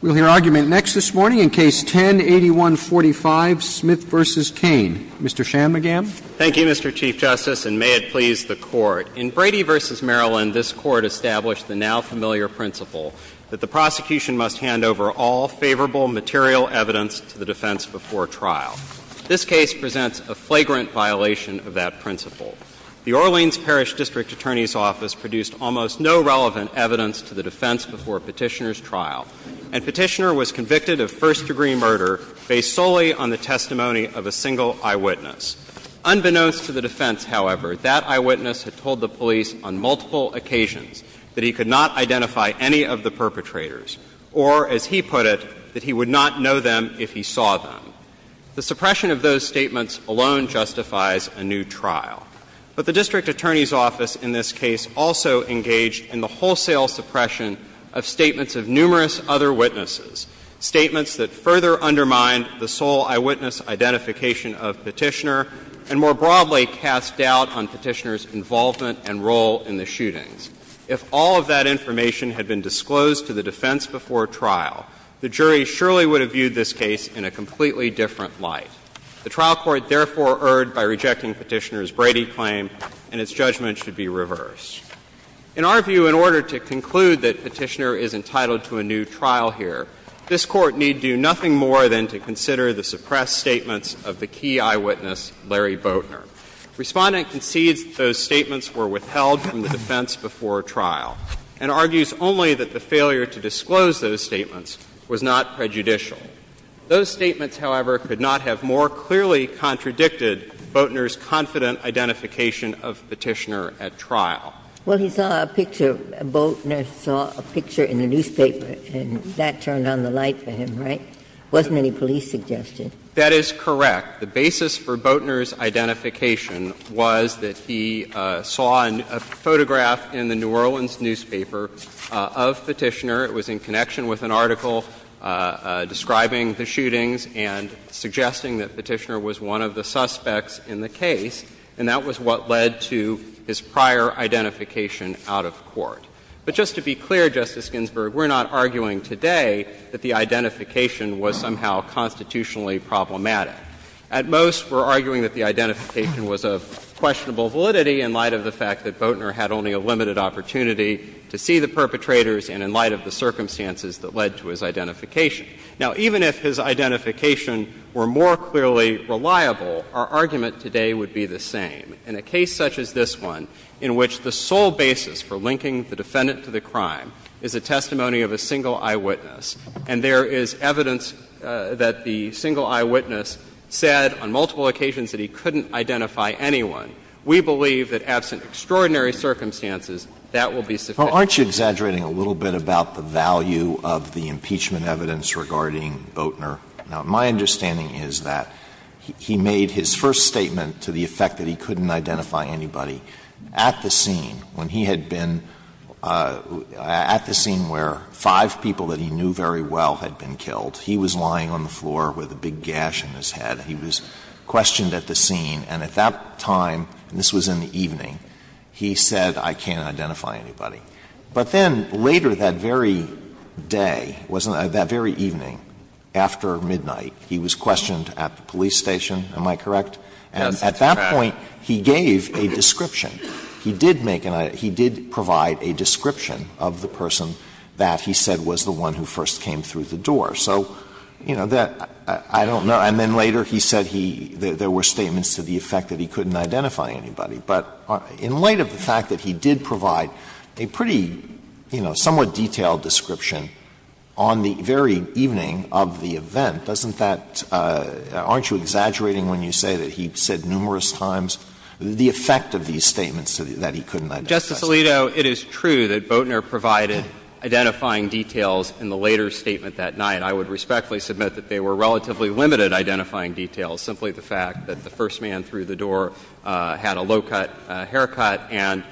We'll hear argument next this morning in Case 10-8145, Smith v. Cain. Mr. Shanmugam. Thank you, Mr. Chief Justice, and may it please the Court. In Brady v. Maryland, this Court established the now-familiar principle that the prosecution must hand over all favorable material evidence to the defense before trial. This case presents a flagrant violation of that principle. The Orleans Parish District Attorney's Office produced almost no relevant evidence to the defense before Petitioner's trial, and Petitioner was convicted of first-degree murder based solely on the testimony of a single eyewitness. Unbeknownst to the defense, however, that eyewitness had told the police on multiple occasions that he could not identify any of the perpetrators, or, as he put it, that he would not know them if he saw them. The suppression of those statements alone justifies a new trial. But the District Attorney's Office in this case also engaged in the wholesale suppression of statements of numerous other witnesses, statements that further undermine the sole eyewitness identification of Petitioner, and more broadly cast doubt on Petitioner's involvement and role in the shootings. If all of that information had been disclosed to the defense before trial, the jury surely would have viewed this case in a completely different light. The trial court therefore erred by rejecting Petitioner's Brady claim, and its judgment should be reversed. In our view, in order to conclude that Petitioner is entitled to a new trial here, this Court need do nothing more than to consider the suppressed statements of the key eyewitness, Larry Boatner. Respondent concedes that those statements were withheld from the defense before trial, and argues only that the failure to disclose those statements was not prejudicial. Those statements, however, could not have more clearly contradicted Boatner's confident identification of Petitioner at trial. Ginsburg. Well, he saw a picture, Boatner saw a picture in the newspaper, and that turned on the light for him, right? It wasn't any police suggestion. That is correct. The basis for Boatner's identification was that he saw a photograph in the New Orleans newspaper of Petitioner. It was in connection with an article describing the shootings and suggesting that Petitioner was one of the suspects in the case, and that was what led to his prior identification out of court. But just to be clear, Justice Ginsburg, we're not arguing today that the identification was somehow constitutionally problematic. At most, we're arguing that the identification was of questionable validity in light of the fact that Boatner had only a limited opportunity to see the perpetrators, and in light of the circumstances that led to his identification. Now, even if his identification were more clearly reliable, our argument today would be the same. In a case such as this one, in which the sole basis for linking the defendant to the crime is a testimony of a single eyewitness, and there is evidence that the single eyewitness said on multiple occasions that he couldn't identify anyone, we believe that absent extraordinary circumstances, that will be sufficient. Alito, are you exaggerating a little bit about the value of the impeachment evidence regarding Boatner? Now, my understanding is that he made his first statement to the effect that he couldn't identify anybody at the scene, when he had been at the scene where five people that he knew very well had been killed. He was lying on the floor with a big gash in his head. He was questioned at the scene, and at that time, and this was in the evening, he said, I can't identify anybody. But then later that very day, wasn't it, that very evening, after midnight, he was questioned at the police station, am I correct? And at that point, he gave a description. He did make an idea — he did provide a description of the person that he said was the one who first came through the door. So, you know, that — I don't know. And then later he said he — there were statements to the effect that he couldn't identify anybody. But in light of the fact that he did provide a pretty, you know, somewhat detailed description on the very evening of the event, doesn't that — aren't you exaggerating when you say that he said numerous times the effect of these statements that he couldn't identify somebody? Justice Alito, it is true that Boatner provided identifying details in the later statement that night. I would respectfully submit that they were relatively limited identifying details, simply the fact that the first man through the door had a low-cut haircut and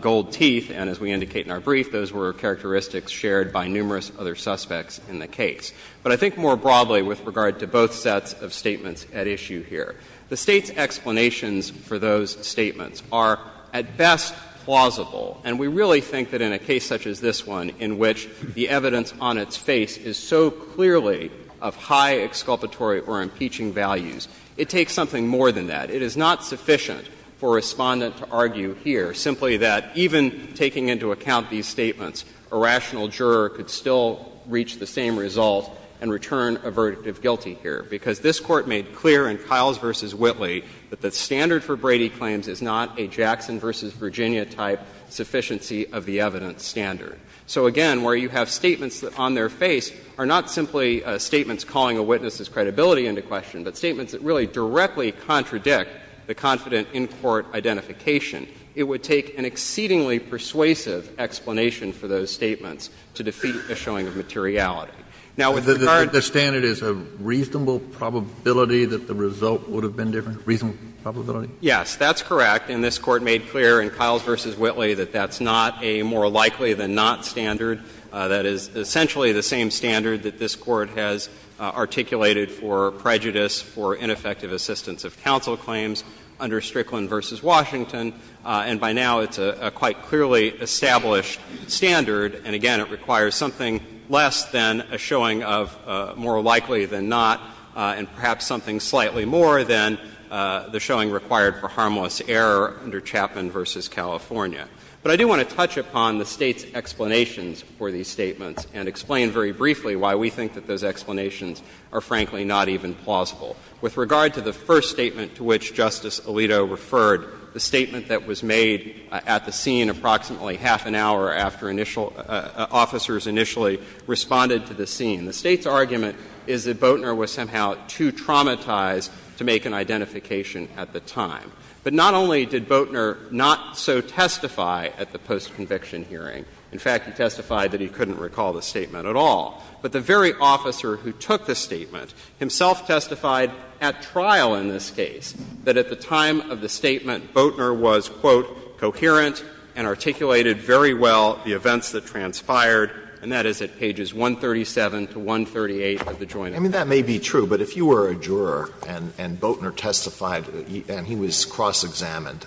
gold teeth. And as we indicate in our brief, those were characteristics shared by numerous other suspects in the case. But I think more broadly with regard to both sets of statements at issue here, the State's explanations for those statements are at best plausible. And we really think that in a case such as this one, in which the evidence on its face is so clearly of high exculpatory or impeaching values, it takes something more than that. It is not sufficient for Respondent to argue here simply that even taking into account these statements, a rational juror could still reach the same result and return a verdict of guilty here, because this Court made clear in Kiles v. Whitley that the standard for Brady claims is not a Jackson v. Virginia-type sufficiency of the evidence standard. So, again, where you have statements that on their face are not simply statements calling a witness's credibility into question, but statements that really directly contradict the confident in-court identification, it would take an exceedingly persuasive explanation for those statements to defeat a showing of materiality. Now, with regard to the standard is a reasonable probability that the result would have been different? Reasonable probability? Yes, that's correct. And this Court made clear in Kiles v. Whitley that that's not a more likely-than-not standard. That is essentially the same standard that this Court has articulated for prejudice, for ineffective assistance of counsel claims under Strickland v. Washington. And by now, it's a quite clearly established standard. And, again, it requires something less than a showing of more likely-than-not and perhaps something slightly more than the showing required for harmless error under Chapman v. California. But I do want to touch upon the State's explanations for these statements and explain very briefly why we think that those explanations are, frankly, not even plausible. With regard to the first statement to which Justice Alito referred, the statement that was made at the scene approximately half an hour after initial — officers initially responded to the scene, the State's argument is that Boatner was somehow too traumatized to make an identification at the time. But not only did Boatner not so testify at the post-conviction hearing — in fact, he testified that he couldn't recall the statement at all — but the very officer who took the statement himself testified at trial in this case that at the time of the statement, Boatner was, quote, "...coherent and articulated very well the events that transpired," and that is at pages 137 to 138 of the Joint Act. Alito, I mean, that may be true, but if you were a juror and Boatner testified and he was cross-examined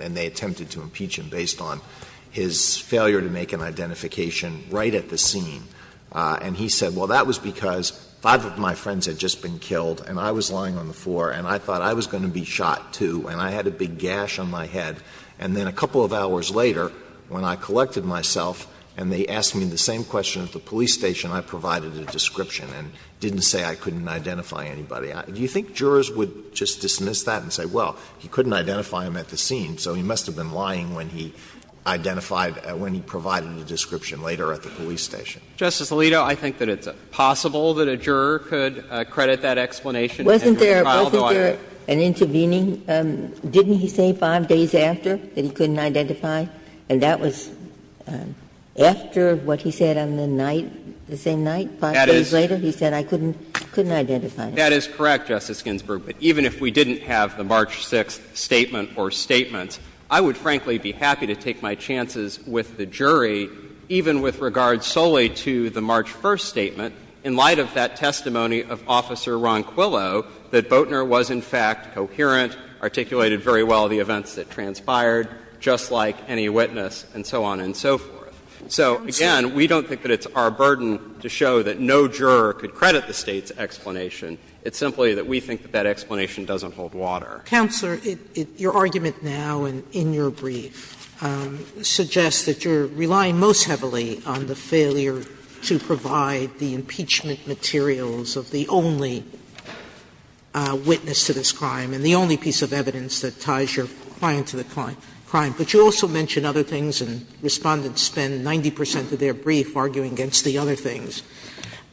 and they attempted to impeach him based on his failure to make an identification right at the scene, and he said, well, that was because five of my friends had just been killed and I was lying on the floor and I thought I was going to be shot, too, and I had a big gash on my head, and then a couple of hours later, when I collected myself and they asked me the same question at the same time, Boatner said, well, I didn't provide a description and didn't say I couldn't identify anybody. Do you think jurors would just dismiss that and say, well, he couldn't identify him at the scene, so he must have been lying when he identified — when he provided a description later at the police station? Justice Alito, I think that it's possible that a juror could credit that explanation at the time of the argument. Wasn't there — wasn't there an intervening — didn't he say five days after that he couldn't identify? And that was after what he said on the night, the same night, five days later? He said, I couldn't identify him. That is correct, Justice Ginsburg. But even if we didn't have the March 6th statement or statements, I would, frankly, be happy to take my chances with the jury, even with regard solely to the March 1st statement, in light of that testimony of Officer Ron Quillo, that Boatner was, in fact, coherent, articulated very well the events that transpired, just like any witness, and so on and so forth. So, again, we don't think that it's our burden to show that no juror could credit the State's explanation. It's simply that we think that that explanation doesn't hold water. Sotomayor, your argument now and in your brief suggests that you're relying most heavily on the failure to provide the impeachment materials of the only witness to this crime, and the only piece of evidence that ties your client to the crime. But you also mention other things, and Respondents spend 90 percent of their brief arguing against the other things.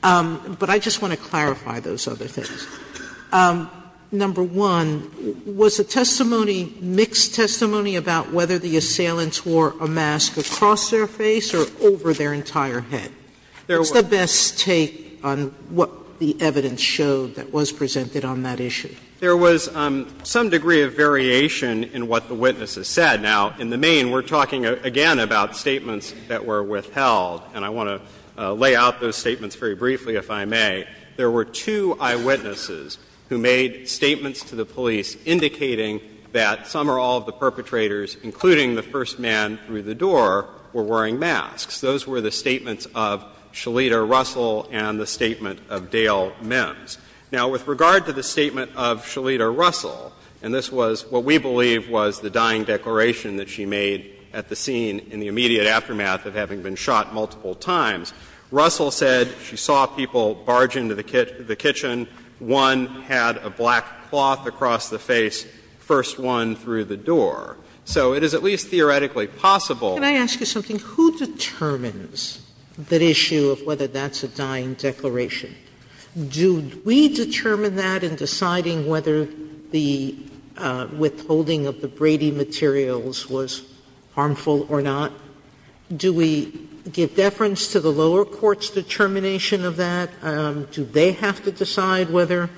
But I just want to clarify those other things. Number one, was the testimony mixed testimony about whether the assailants wore a mask across their face or over their entire head? What's the best take on what the evidence showed that was presented on that issue? There was some degree of variation in what the witnesses said. Now, in the main, we're talking again about statements that were withheld, and I want to lay out those statements very briefly, if I may. There were two eyewitnesses who made statements to the police indicating that some or all of the perpetrators, including the first man through the door, were wearing masks. Those were the statements of Shalita Russell and the statement of Dale Mims. Now, with regard to the statement of Shalita Russell, and this was what we believe was the dying declaration that she made at the scene in the immediate aftermath of having been shot multiple times, Russell said she saw people barge into the kitchen, one had a black cloth across the face, first one through the door. So it is at least theoretically possible that the perpetrator was wearing a mask. Sotomayor, do we determine that in deciding whether the withholding of the Brady materials was harmful or not? Do we give deference to the lower court's determination of that? Do they have to decide whether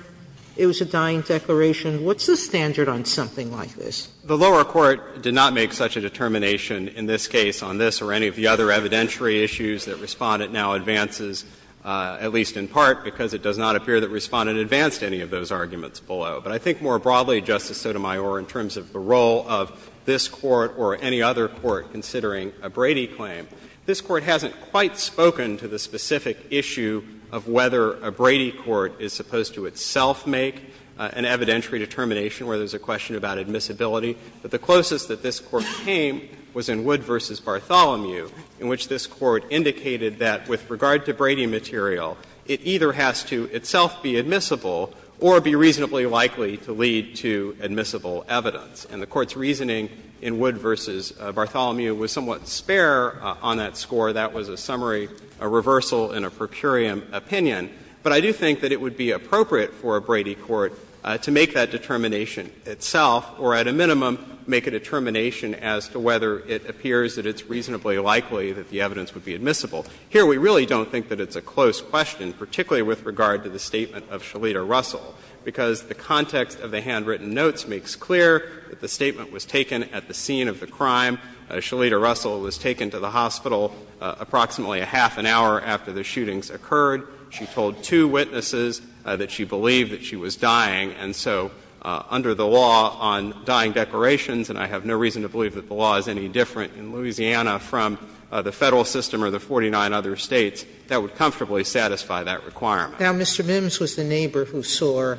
it was a dying declaration? What's the standard on something like this? The lower court did not make such a determination in this case on this or any of the other evidentiary issues that Respondent now advances, at least in part because it does not appear that Respondent advanced any of those arguments below. But I think more broadly, Justice Sotomayor, in terms of the role of this Court or any other court considering a Brady claim, this Court hasn't quite spoken to the specific issue of whether a Brady court is supposed to itself make an evidentiary determination where there's a question about admissibility. But the closest that this Court came was in Wood v. Bartholomew, in which this Court indicated that with regard to Brady material, it either has to itself be admissible or be reasonably likely to lead to admissible evidence. And the Court's reasoning in Wood v. Bartholomew was somewhat spare on that score. That was a summary, a reversal in a per curiam opinion. But I do think that it would be appropriate for a Brady court to make that determination itself or, at a minimum, make a determination as to whether it appears that it's reasonably likely that the evidence would be admissible. Here, we really don't think that it's a close question, particularly with regard to the statement of Shalita Russell, because the context of the handwritten notes makes clear that the statement was taken at the scene of the crime. Shalita Russell was taken to the hospital approximately a half an hour after the shootings occurred. She told two witnesses that she believed that she was dying. And so under the law on dying declarations, and I have no reason to believe that the law is any different in Louisiana from the Federal system or the 49 other States, that would comfortably satisfy that requirement. Sotomayor, Mr. Mims was the neighbor who saw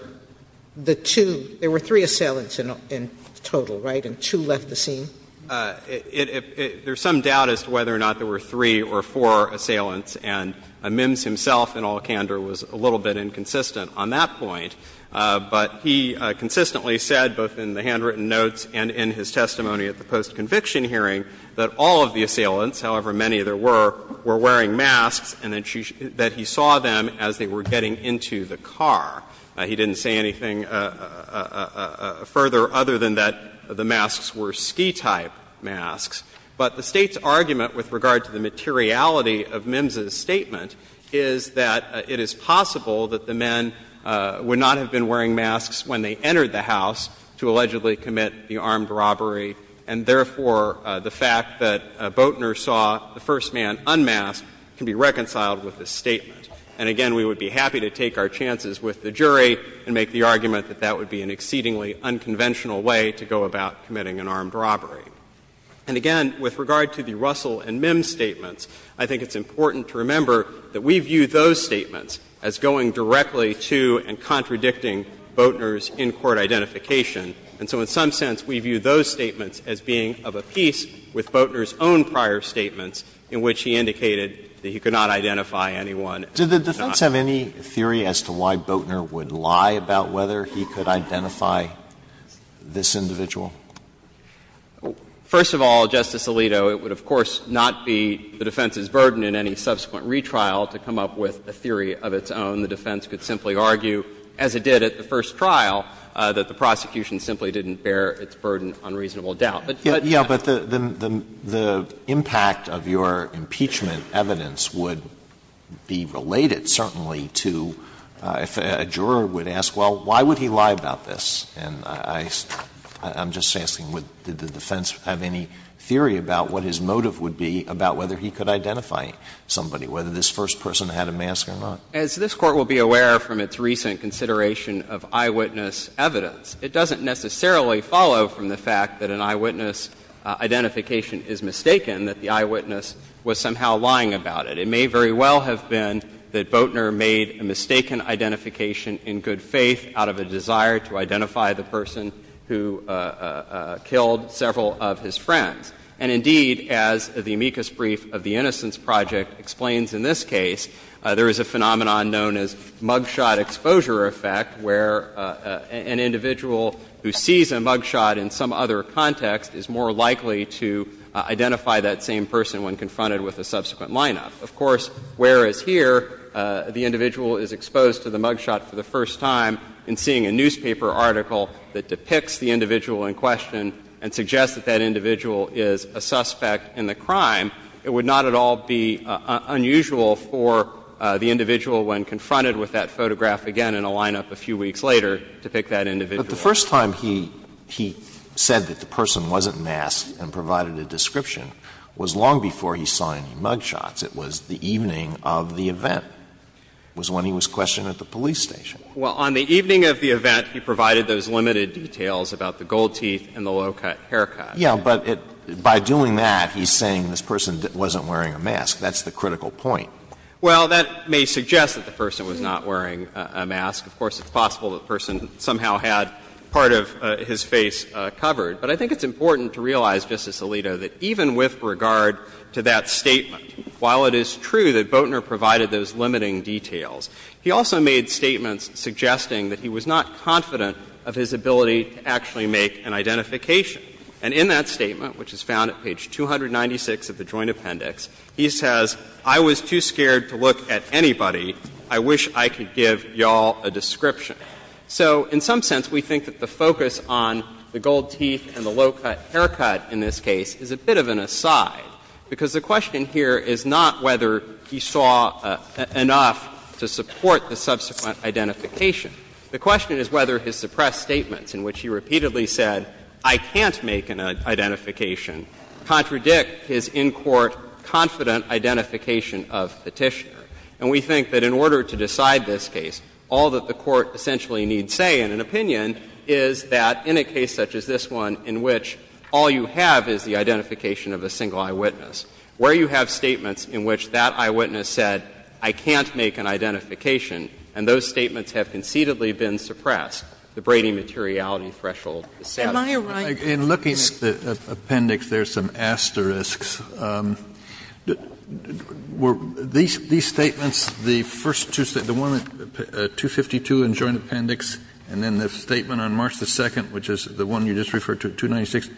the two – there were three assailants in total, right, and two left the scene? There's some doubt as to whether or not there were three or four assailants, and Mims himself, in all candor, was a little bit inconsistent on that point. But he consistently said, both in the handwritten notes and in his testimony at the post-conviction hearing, that all of the assailants, however many there were, were wearing masks and that he saw them as they were getting into the car. He didn't say anything further other than that the masks were ski-type masks. But the State's argument with regard to the materiality of Mims's statement is that it is possible that the men would not have been wearing masks when they entered the house to allegedly commit the armed robbery, and therefore, the fact that Boatner saw the first man unmasked can be reconciled with this statement. And again, we would be happy to take our chances with the jury and make the argument that that would be an exceedingly unconventional way to go about committing an armed robbery. And again, with regard to the Russell and Mims statements, I think it's important to remember that we view those statements as going directly to and contradicting Boatner's in-court identification. And so in some sense, we view those statements as being of a piece with Boatner's own prior statements in which he indicated that he could not identify anyone. Alito, did the defense have any theory as to why Boatner would lie about whether he could identify this individual? First of all, Justice Alito, it would, of course, not be the defense's burden in any subsequent retrial to come up with a theory of its own. The defense could simply argue, as it did at the first trial, that the prosecution simply didn't bear its burden on reasonable doubt. But that's not the case. Alito, the impact of your impeachment evidence would be related certainly to if a juror would ask, well, why would he lie about this? And I'm just asking, did the defense have any theory about what his motive would be about whether he could identify somebody, whether this first person had a mask or not? As this Court will be aware from its recent consideration of eyewitness evidence, it doesn't necessarily follow from the fact that an eyewitness identification is mistaken, that the eyewitness was somehow lying about it. It may very well have been that Boatner made a mistaken identification in good faith out of a desire to identify the person who killed several of his friends. And indeed, as the amicus brief of the Innocence Project explains in this case, there is a phenomenon known as mugshot exposure effect, where an individual who sees a mugshot in some other context is more likely to identify that same person when confronted with a subsequent lineup. Of course, whereas here, the individual is exposed to the mugshot for the first time in seeing a newspaper article that depicts the individual in question and suggests that that individual is a suspect in the crime, it would not at all be unusual for the individual when confronted with that photograph again in a lineup a few weeks later to pick that individual. But the first time he said that the person wasn't masked and provided a description was long before he saw any mugshots. It was the evening of the event. It was when he was questioned at the police station. Well, on the evening of the event, he provided those limited details about the gold teeth and the low-cut haircut. Yeah, but by doing that, he's saying this person wasn't wearing a mask. That's the critical point. Well, that may suggest that the person was not wearing a mask. Of course, it's possible that the person somehow had part of his face covered. But I think it's important to realize, Justice Alito, that even with regard to that statement, while it is true that Boatner provided those limiting details, he also made statements suggesting that he was not confident of his ability to actually make an identification. And in that statement, which is found at page 296 of the Joint Appendix, he says, I was too scared to look at anybody. I wish I could give you all a description. So in some sense, we think that the focus on the gold teeth and the low-cut haircut in this case is a bit of an aside, because the question here is not whether he saw enough to support the subsequent identification. The question is whether his suppressed statements in which he repeatedly said, I can't make an identification, contradict his in-court confident identification of Petitioner. And we think that in order to decide this case, all that the Court essentially needs say in an opinion is that in a case such as this one in which all you have is the identification of a single eyewitness, where you have statements in which that eyewitness said, I can't make an identification, and those statements have concededly been suppressed, the Brady materiality threshold is satisfied. Sotomayor, right? Kennedy, in looking at the appendix, there are some asterisks. Were these statements, the first two statements, the one at 252 in the Joint Appendix and then the statement on March 2nd, which is the one you just referred to, 296,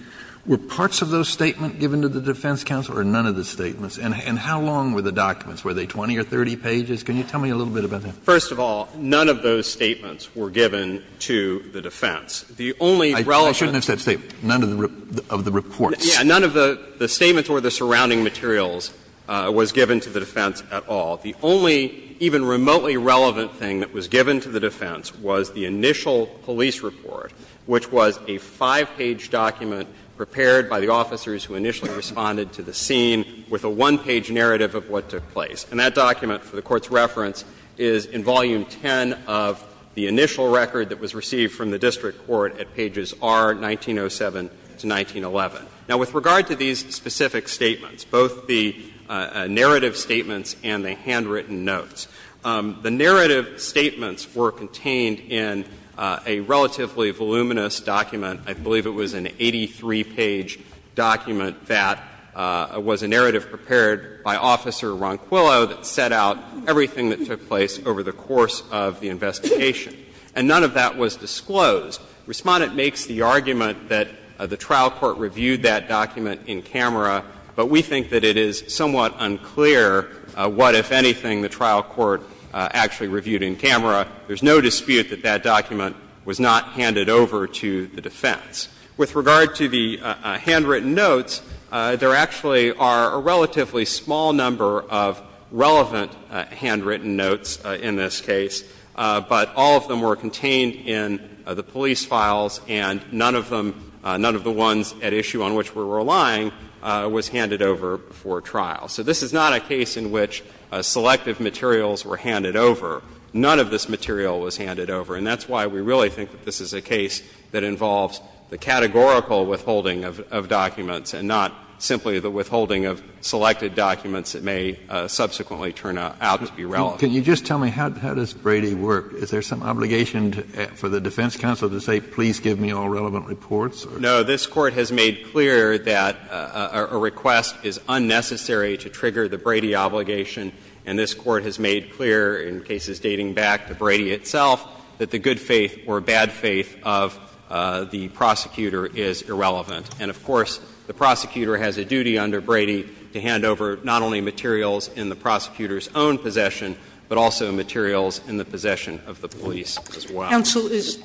were parts of those statements given to the defense counsel or none of the statements? And how long were the documents? Were they 20 or 30 pages? Can you tell me a little bit about that? First of all, none of those statements were given to the defense. The only relevant ones. I shouldn't have said statements. None of the reports. Yes. None of the statements or the surrounding materials was given to the defense at all. The only even remotely relevant thing that was given to the defense was the initial police report, which was a 5-page document prepared by the officers who initially responded to the scene with a 1-page narrative of what took place. And that document, for the Court's reference, is in Volume 10 of the initial record that was received from the district court at pages R, 1907 to 1911. Now, with regard to these specific statements, both the narrative statements and the handwritten notes, the narrative statements were contained in a relatively voluminous document. I believe it was an 83-page document that was a narrative prepared by Officer Ronquillo that set out everything that took place over the course of the investigation. And none of that was disclosed. Respondent makes the argument that the trial court reviewed that document in camera, but we think that it is somewhat unclear what, if anything, the trial court actually reviewed in camera. There's no dispute that that document was not handed over to the defense. With regard to the handwritten notes, there actually are a relatively small number of relevant handwritten notes in this case, but all of them were contained in the police files, and none of them, none of the ones at issue on which we're relying was handed over for trial. So this is not a case in which selective materials were handed over. None of this material was handed over. And that's why we really think that this is a case that involves the categorical withholding of documents and not simply the withholding of selected documents that may subsequently turn out to be relevant. Can you just tell me, how does Brady work? Is there some obligation for the defense counsel to say, please give me all relevant reports? No. This Court has made clear that a request is unnecessary to trigger the Brady obligation, and this Court has made clear in cases dating back to Brady itself that the good faith or bad faith of the prosecutor is irrelevant. And, of course, the prosecutor has a duty under Brady to hand over not only materials in the prosecutor's own possession, but also materials in the possession of the police as well. Sotomayor, is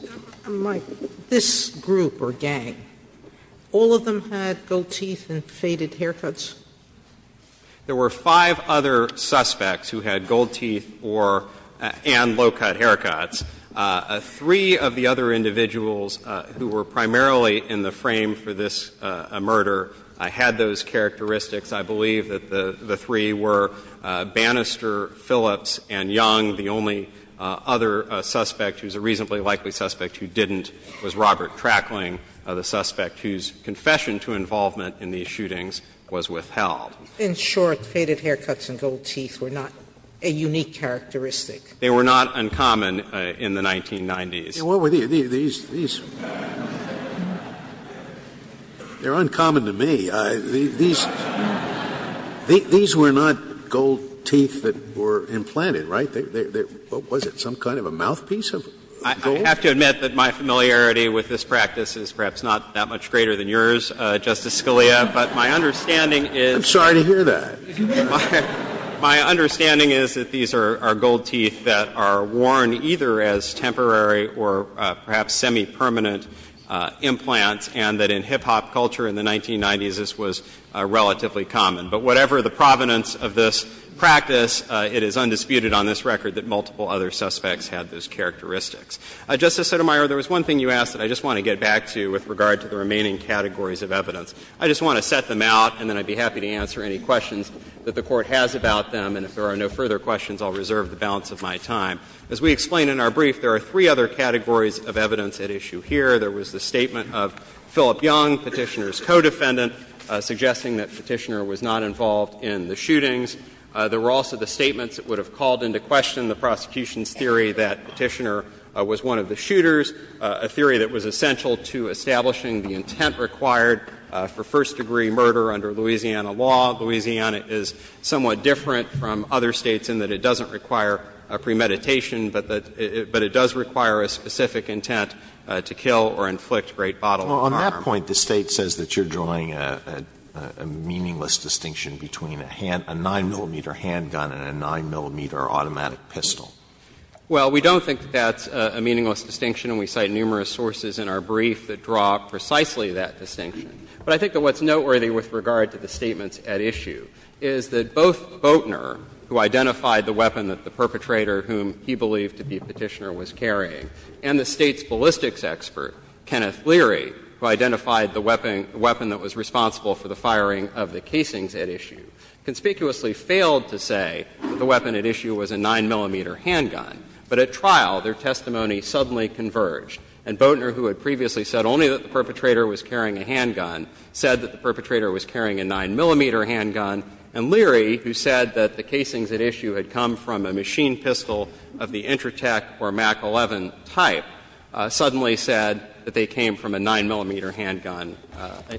this group or gang, all of them had gold teeth and faded haircuts? There were five other suspects who had gold teeth or and low-cut haircuts. Three of the other individuals who were primarily in the frame for this murder had those characteristics. I believe that the three were Bannister, Phillips, and Young. The only other suspect who's a reasonably likely suspect who didn't was Robert Trackling, the suspect whose confession to involvement in these shootings was withheld. In short, faded haircuts and gold teeth were not a unique characteristic. They were not uncommon in the 1990s. Scalia, what were these? These are uncommon to me. These were not gold teeth that were implanted, right? What was it, some kind of a mouthpiece of gold? I have to admit that my familiarity with this practice is perhaps not that much greater than yours, Justice Scalia, but my understanding is. I'm sorry to hear that. My understanding is that these are gold teeth that are worn either as temporary or perhaps semipermanent implants and that in hip-hop culture in the 1990s, this was relatively common. But whatever the provenance of this practice, it is undisputed on this record that multiple other suspects had those characteristics. Justice Sotomayor, there was one thing you asked that I just want to get back to with regard to the remaining categories of evidence. I just want to set them out and then I would be happy to answer any questions that the Court has about them. And if there are no further questions, I will reserve the balance of my time. As we explained in our brief, there are three other categories of evidence at issue here. There was the statement of Philip Young, Petitioner's co-defendant, suggesting that Petitioner was not involved in the shootings. There were also the statements that would have called into question the prosecution's theory that Petitioner was one of the shooters, a theory that was essential to establishing the intent required for first-degree murder under Louisiana law. Louisiana is somewhat different from other States in that it doesn't require a premeditation, but it does require a specific intent to kill or inflict great bodily harm. Alito, on that point, the State says that you're drawing a meaningless distinction between a 9-millimeter handgun and a 9-millimeter automatic pistol. Well, we don't think that's a meaningless distinction. And we cite numerous sources in our brief that draw precisely that distinction. But I think that what's noteworthy with regard to the statements at issue is that both Boatner, who identified the weapon that the perpetrator whom he believed to be Petitioner was carrying, and the State's ballistics expert, Kenneth Leary, who identified the weapon that was responsible for the firing of the casings at issue, conspicuously failed to say that the weapon at issue was a 9-millimeter handgun. But at trial, their testimony suddenly converged. And Boatner, who had previously said only that the perpetrator was carrying a handgun, said that the perpetrator was carrying a 9-millimeter handgun. And Leary, who said that the casings at issue had come from a machine pistol of the Intratec or MAC-11 type, suddenly said that they came from a 9-millimeter handgun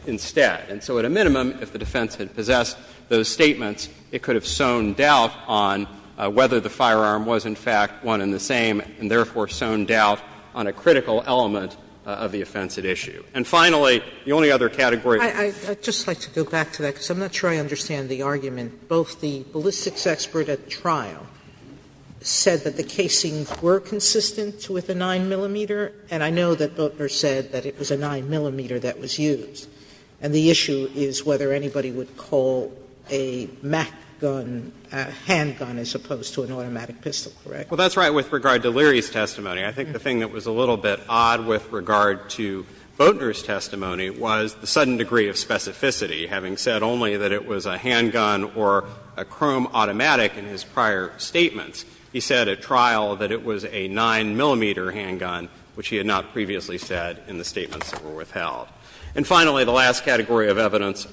instead. And so at a minimum, if the defense had possessed those statements, it could have sown doubt on whether the firearm was, in fact, one and the same, and therefore sown doubt on a critical element of the offense at issue. And finally, the only other category. Sotomayor, I'd just like to go back to that, because I'm not sure I understand the argument. Both the ballistics expert at trial said that the casings were consistent with a 9-millimeter, and I know that Boatner said that it was a 9-millimeter that was used. And the issue is whether anybody would call a MAC gun a handgun as opposed to an automatic pistol, correct? Well, that's right with regard to Leary's testimony. I think the thing that was a little bit odd with regard to Boatner's testimony was the sudden degree of specificity, having said only that it was a handgun or a chrome automatic in his prior statements. He said at trial that it was a 9-millimeter handgun, which he had not previously said in the statements that were withheld. And finally, the last category of evidence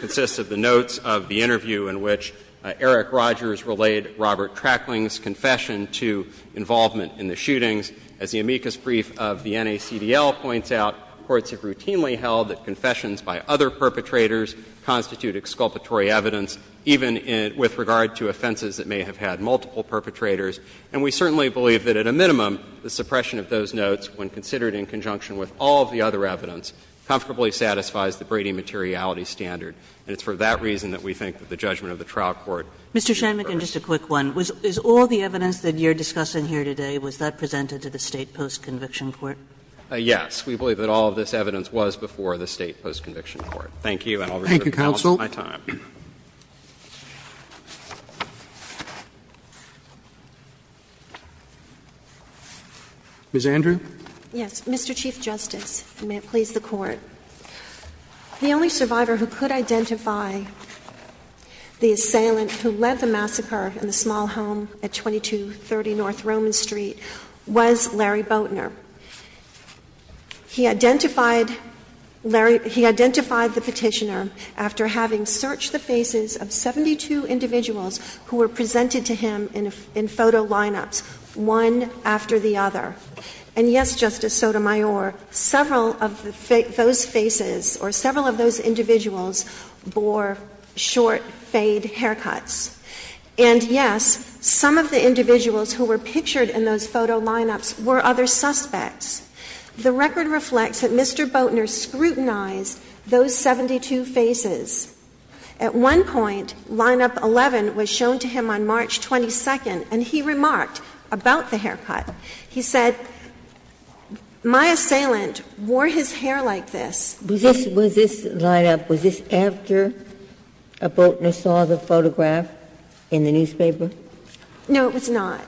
consists of the notes of the interview in which Eric Rogers relayed Robert Trackling's confession to involvement in the shootings. As the amicus brief of the NACDL points out, courts have routinely held that confessions by other perpetrators constitute exculpatory evidence, even with regard to offenses that may have had multiple perpetrators. And we certainly believe that at a minimum, the suppression of those notes, when there is no evidence, comfortably satisfies the Brady materiality standard. And it's for that reason that we think that the judgment of the trial court should be first. Mr. Shanmugam, just a quick one. Is all the evidence that you're discussing here today, was that presented to the State Post-Conviction Court? Yes. We believe that all of this evidence was before the State Post-Conviction Court. Thank you, and I'll reserve the balance of my time. Thank you, counsel. Ms. Andrew. Yes. Mr. Chief Justice, and may it please the Court. The only survivor who could identify the assailant who led the massacre in the small home at 2230 North Roman Street was Larry Boatner. He identified Larry – he identified the petitioner after having searched the faces of 72 individuals who were presented to him in photo lineups, one after the other. And yes, Justice Sotomayor, several of those faces or several of those individuals bore short, fade haircuts. And yes, some of the individuals who were pictured in those photo lineups were other suspects. The record reflects that Mr. Boatner scrutinized those 72 faces. At one point, lineup 11 was shown to him on March 22nd, and he remarked about the haircut. He said, my assailant wore his hair like this. Was this – was this lineup, was this after Boatner saw the photograph in the newspaper? No, it was not.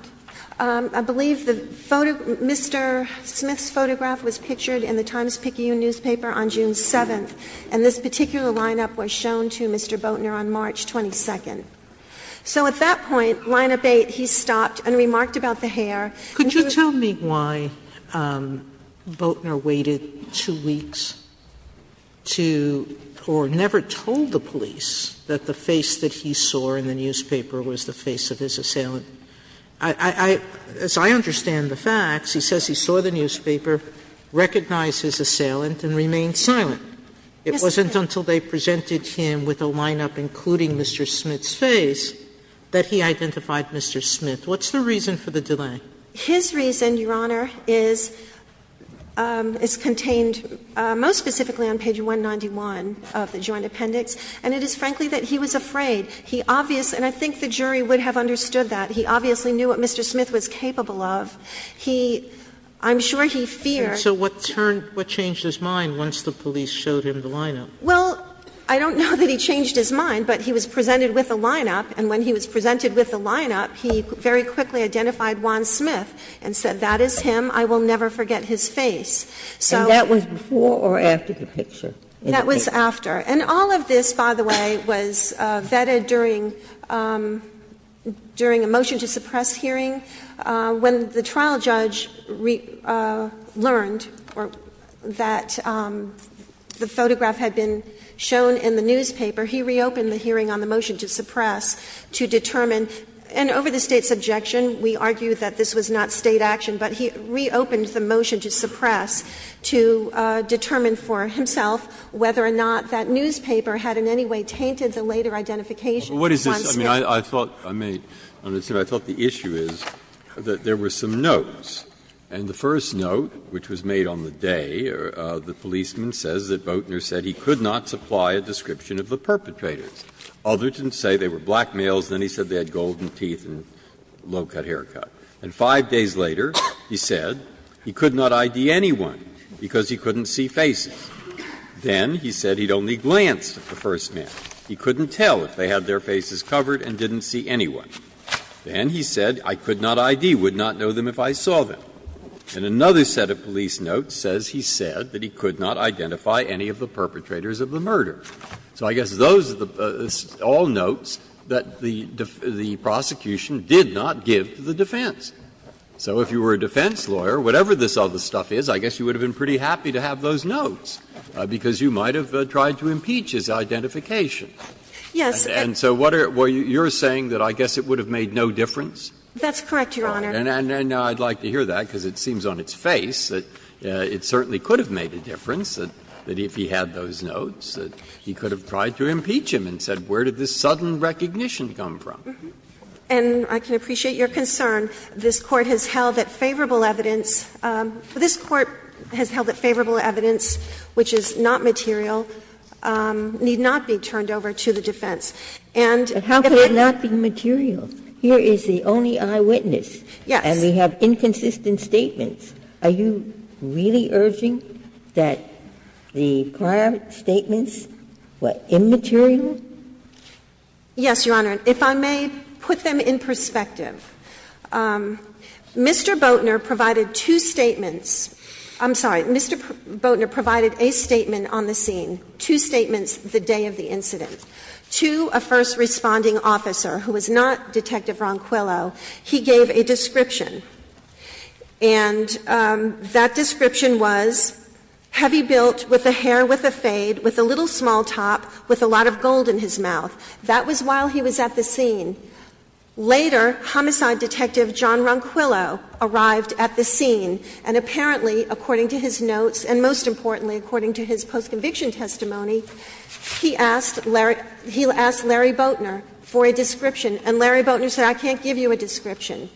I believe the photo – Mr. Smith's photograph was pictured in the Times-Picayune newspaper on June 7th, and this particular lineup was shown to Mr. Boatner on March 22nd. So at that point, lineup 8, he stopped and remarked about the hair. And he was – Sotomayor, could you tell me why Boatner waited two weeks to – or never told the police that the face that he saw in the newspaper was the face of his assailant? I – I – as I understand the facts, he says he saw the newspaper, recognized Yes, ma'am. until they presented him with a lineup including Mr. Smith's face, that he identified Mr. Smith. What's the reason for the delay? His reason, Your Honor, is – is contained most specifically on page 191 of the Joint Appendix, and it is, frankly, that he was afraid. He obvious – and I think the jury would have understood that. He obviously knew what Mr. Smith was capable of. He – I'm sure he feared And so what turned – what changed his mind once the police showed him the lineup? Well, I don't know that he changed his mind, but he was presented with a lineup, and when he was presented with a lineup, he very quickly identified Juan Smith and said, that is him, I will never forget his face. So – And that was before or after the picture? That was after. And all of this, by the way, was vetted during – during a motion to suppress hearing. When the trial judge learned that the photograph had been shown in the newspaper, he reopened the hearing on the motion to suppress to determine – and over the State's objection, we argue that this was not State action, but he reopened the motion to suppress to determine for himself whether or not that newspaper had in any way tainted the later identification of Juan Smith. I mean, I thought – I mean, I thought the issue is that there were some notes. And the first note, which was made on the day, the policeman says that Boatner said he could not supply a description of the perpetrators. Others didn't say they were black males. Then he said they had golden teeth and low-cut haircut. And five days later, he said he could not ID anyone because he couldn't see faces. Then he said he'd only glanced at the first man. He couldn't tell if they had their faces covered and didn't see anyone. Then he said, I could not ID, would not know them if I saw them. And another set of police notes says he said that he could not identify any of the perpetrators of the murder. So I guess those are all notes that the prosecution did not give to the defense. So if you were a defense lawyer, whatever this other stuff is, I guess you would have been pretty happy to have those notes, because you might have tried to impeach his identification. Yes. And so what are you saying, that I guess it would have made no difference? That's correct, Your Honor. And I'd like to hear that, because it seems on its face that it certainly could have made a difference, that if he had those notes, that he could have tried to impeach him and said, where did this sudden recognition come from? And I can appreciate your concern. This Court has held that favorable evidence for this Court has held that favorable evidence, which is not material, need not be turned over to the defense. And if it's not material, here is the only eyewitness. Yes. And we have inconsistent statements. Are you really urging that the prior statements were immaterial? Yes, Your Honor. If I may put them in perspective. Mr. Boatner provided two statements. I'm sorry. Mr. Boatner provided a statement on the scene, two statements the day of the incident. To a first responding officer, who was not Detective Ronquillo, he gave a description. And that description was, heavy built, with a hair with a fade, with a little small top, with a lot of gold in his mouth. That was while he was at the scene. Later, homicide detective John Ronquillo arrived at the scene, and apparently, according to his notes, and most importantly, according to his post-conviction testimony, he asked Larry Boatner for a description. And Larry Boatner said, I can't give you a description.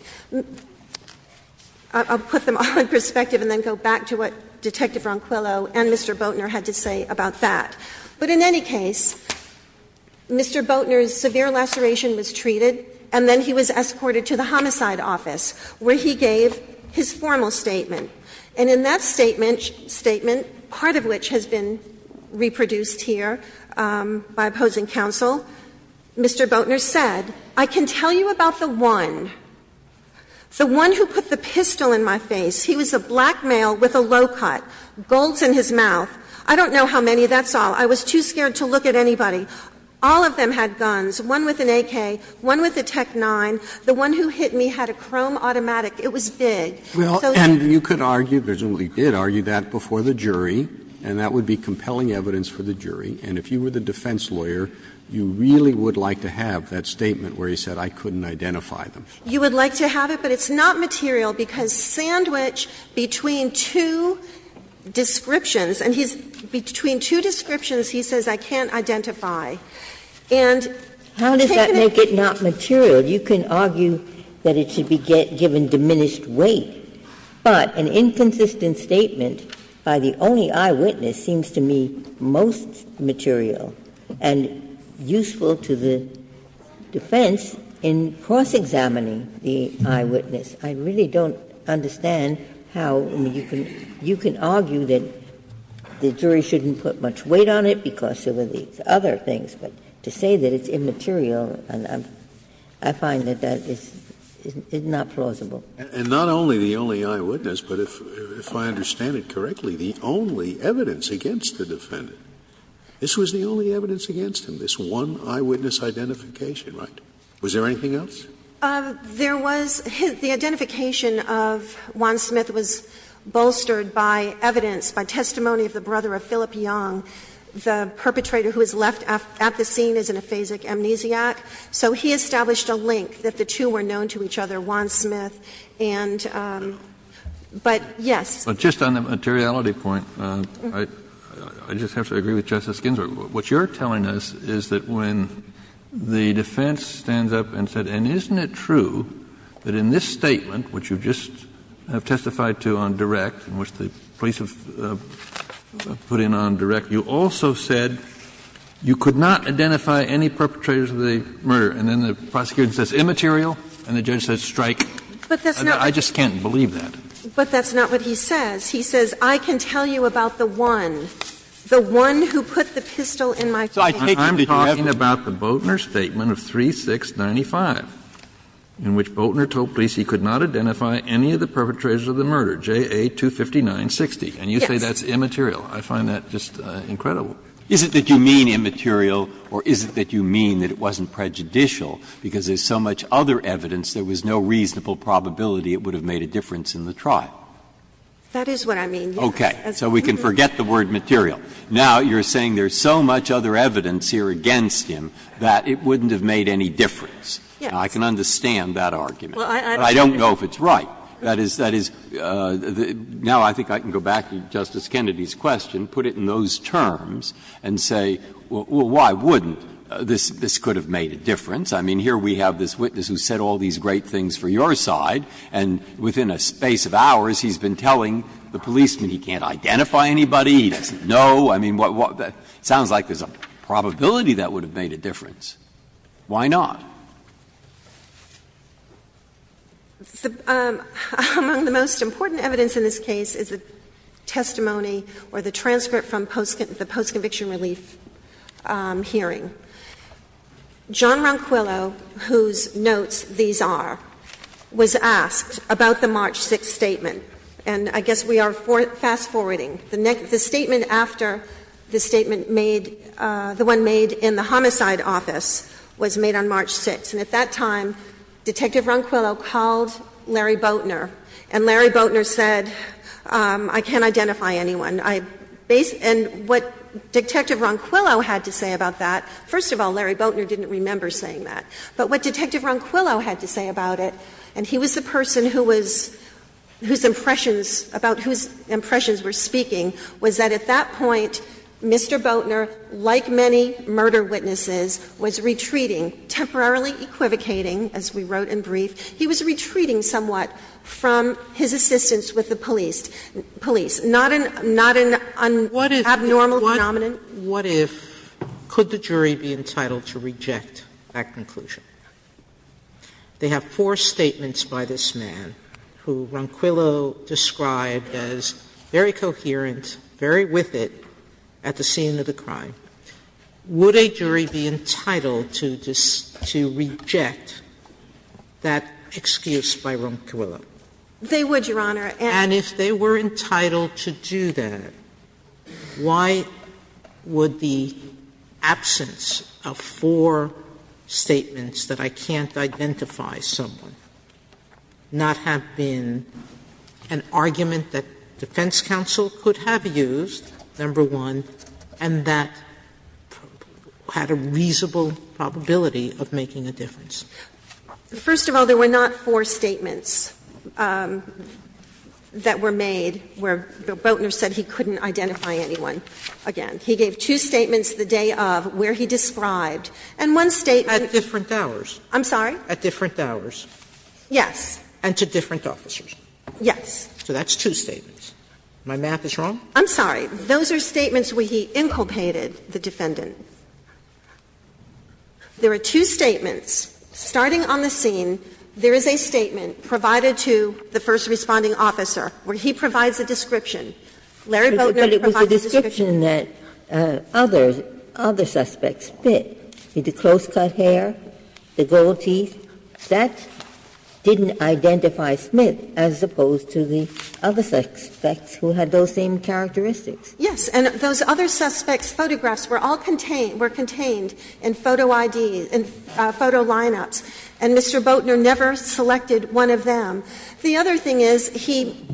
I'll put them all in perspective and then go back to what Detective Ronquillo and Mr. Boatner had to say about that. But in any case, Mr. Boatner's severe laceration was treated, and then he was escorted to the homicide office, where he gave his formal statement. And in that statement, part of which has been reproduced here by opposing counsel, Mr. Boatner said, I can tell you about the one, the one who put the pistol in my face. He was a black male with a low cut, golds in his mouth. I don't know how many. That's all. I was too scared to look at anybody. All of them had guns. One with an AK, one with a Tech-9. The one who hit me had a chrome automatic. It was big. So here. Roberts. And you could argue, presumably did argue that before the jury, and that would be compelling evidence for the jury. And if you were the defense lawyer, you really would like to have that statement where he said, I couldn't identify them. You would like to have it, but it's not material, because sandwiched between two descriptions and he's between two descriptions, he says, I can't identify. And take it. Ginsburg. How does that make it not material? You can argue that it should be given diminished weight. But an inconsistent statement by the only eyewitness seems to me most material and useful to the defense in cross-examining the eyewitness. I really don't understand how you can argue that the jury shouldn't put much weight on it because of the other things. But to say that it's immaterial, I find that that is not plausible. Scalia. And not only the only eyewitness, but if I understand it correctly, the only evidence against the defendant, this was the only evidence against him, this one eyewitness identification, right? Was there anything else? There was. The identification of Juan Smith was bolstered by evidence, by testimony of the brother of Philip Young, the perpetrator who was left at the scene as an aphasic amnesiac. So he established a link that the two were known to each other, Juan Smith. And but, yes. But just on the materiality point, I just have to agree with Justice Ginsburg. What you're telling us is that when the defense stands up and said, and isn't it true that in this statement, which you just have testified to on direct, in which the police have put in on direct, you also said you could not identify any perpetrators of the murder, and then the prosecution says immaterial, and the judge says strike. I just can't believe that. But that's not what he says. He says, I can tell you about the one, the one who put the pistol in my hand. Breyer, I'm talking about the Boatner statement of 3695, in which Boatner told police he could not identify any of the perpetrators of the murder, JA 25960. And you say that's immaterial. I find that just incredible. Is it that you mean immaterial, or is it that you mean that it wasn't prejudicial, because there's so much other evidence, there was no reasonable probability it would have made a difference in the trial? That is what I mean, yes. Breyer, so we can forget the word material. Now, you're saying there's so much other evidence here against him that it wouldn't have made any difference. Yes. Now, I can understand that argument, but I don't know if it's right. That is, that is, now I think I can go back to Justice Kennedy's question, put it in those terms, and say, well, why wouldn't? This could have made a difference. I mean, here we have this witness who said all these great things for your side, and within a space of hours, he's been telling the policeman he can't identify anybody, he doesn't know. I mean, what, what, that sounds like there's a probability that would have made a difference. Why not? Among the most important evidence in this case is the testimony or the transcript from the post-conviction relief hearing. John Ronquillo, whose notes these are, was asked about the March 6th statement. And I guess we are fast-forwarding. The statement after the statement made, the one made in the homicide office, was made on March 6th. And at that time, Detective Ronquillo called Larry Boatner, and Larry Boatner said, I can't identify anyone. And what Detective Ronquillo had to say about that, first of all, Larry Boatner didn't remember saying that. But what Detective Ronquillo had to say about it, and he was the person who was, whose impressions, about whose impressions were speaking, was that at that point, Mr. Boatner, like many murder witnesses, was retreating, temporarily equivocating, as we wrote in brief. He was retreating somewhat from his assistance with the police. Not an abnormal phenomenon. Sotomayor What if, could the jury be entitled to reject that conclusion? They have four statements by this man, who Ronquillo described as very coherent, very with it, at the scene of the crime. Would a jury be entitled to reject that excuse by Ronquillo? They would, Your Honor. And if they were entitled to do that, why would the absence of four statements that I can't identify someone, not have been an argument that defense counsel could have used, number one, and that had a reasonable probability of making a difference? First of all, there were not four statements. There were two statements that were made where Boatner said he couldn't identify anyone. Again, he gave two statements the day of where he described, and one statement at different hours. I'm sorry? At different hours. Yes. And to different officers. Yes. So that's two statements. My math is wrong? I'm sorry. Those are statements where he inculpated the defendant. There are two statements. Starting on the scene, there is a statement provided to the first responding officer where he provides a description. Larry Boatner provides a description. But it was a description that other suspects fit. The close-cut hair, the gold teeth, that didn't identify Smith as opposed to the other suspects who had those same characteristics. Yes. And those other suspects' photographs were all contained in photo ID, in photo lineups, and Mr. Boatner never selected one of them. The other thing is he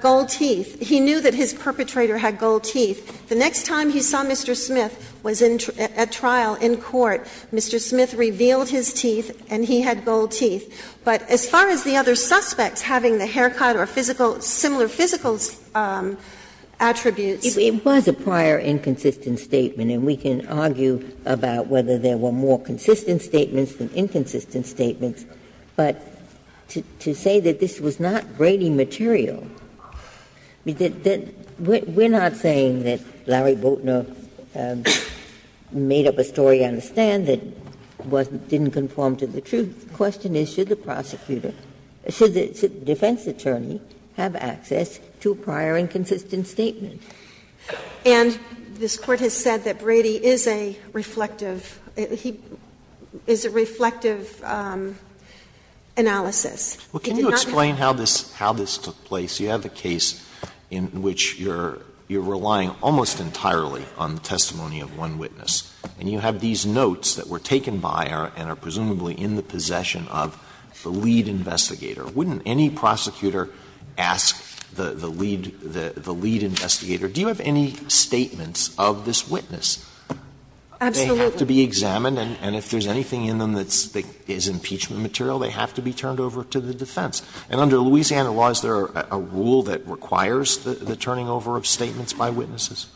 gold teeth. He knew that his perpetrator had gold teeth. The next time he saw Mr. Smith was at trial in court, Mr. Smith revealed his teeth and he had gold teeth. But as far as the other suspects having the haircut or physical, similar physical characteristics, attributes. It was a prior inconsistent statement, and we can argue about whether there were more consistent statements than inconsistent statements. But to say that this was not Brady material, we're not saying that Larry Boatner made up a story on the stand that didn't conform to the truth. The question is, should the prosecutor, should the defense attorney, have access to a prior inconsistent statement? And this Court has said that Brady is a reflective, he is a reflective analysis. He did not make up a story on the stand that didn't conform to the truth. Alito Can you explain how this took place? You have a case in which you're relying almost entirely on the testimony of one witness. And you have these notes that were taken by and are presumably in the possession of the lead investigator. Wouldn't any prosecutor ask the lead investigator, do you have any statements of this witness? They have to be examined, and if there's anything in them that is impeachment material, they have to be turned over to the defense. And under Louisiana laws, there are a rule that requires the turning over of statements by witnesses,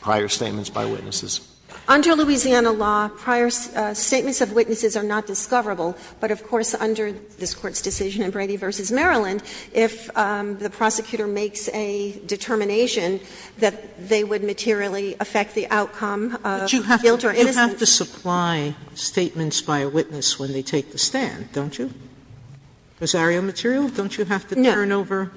prior statements by witnesses. Under Louisiana law, prior statements of witnesses are not discoverable. But, of course, under this Court's decision in Brady v. Maryland, if the prosecutor makes a determination that they would materially affect the outcome of guilt or innocence You have to supply statements by a witness when they take the stand, don't you? Rosario material, don't you have to turn over?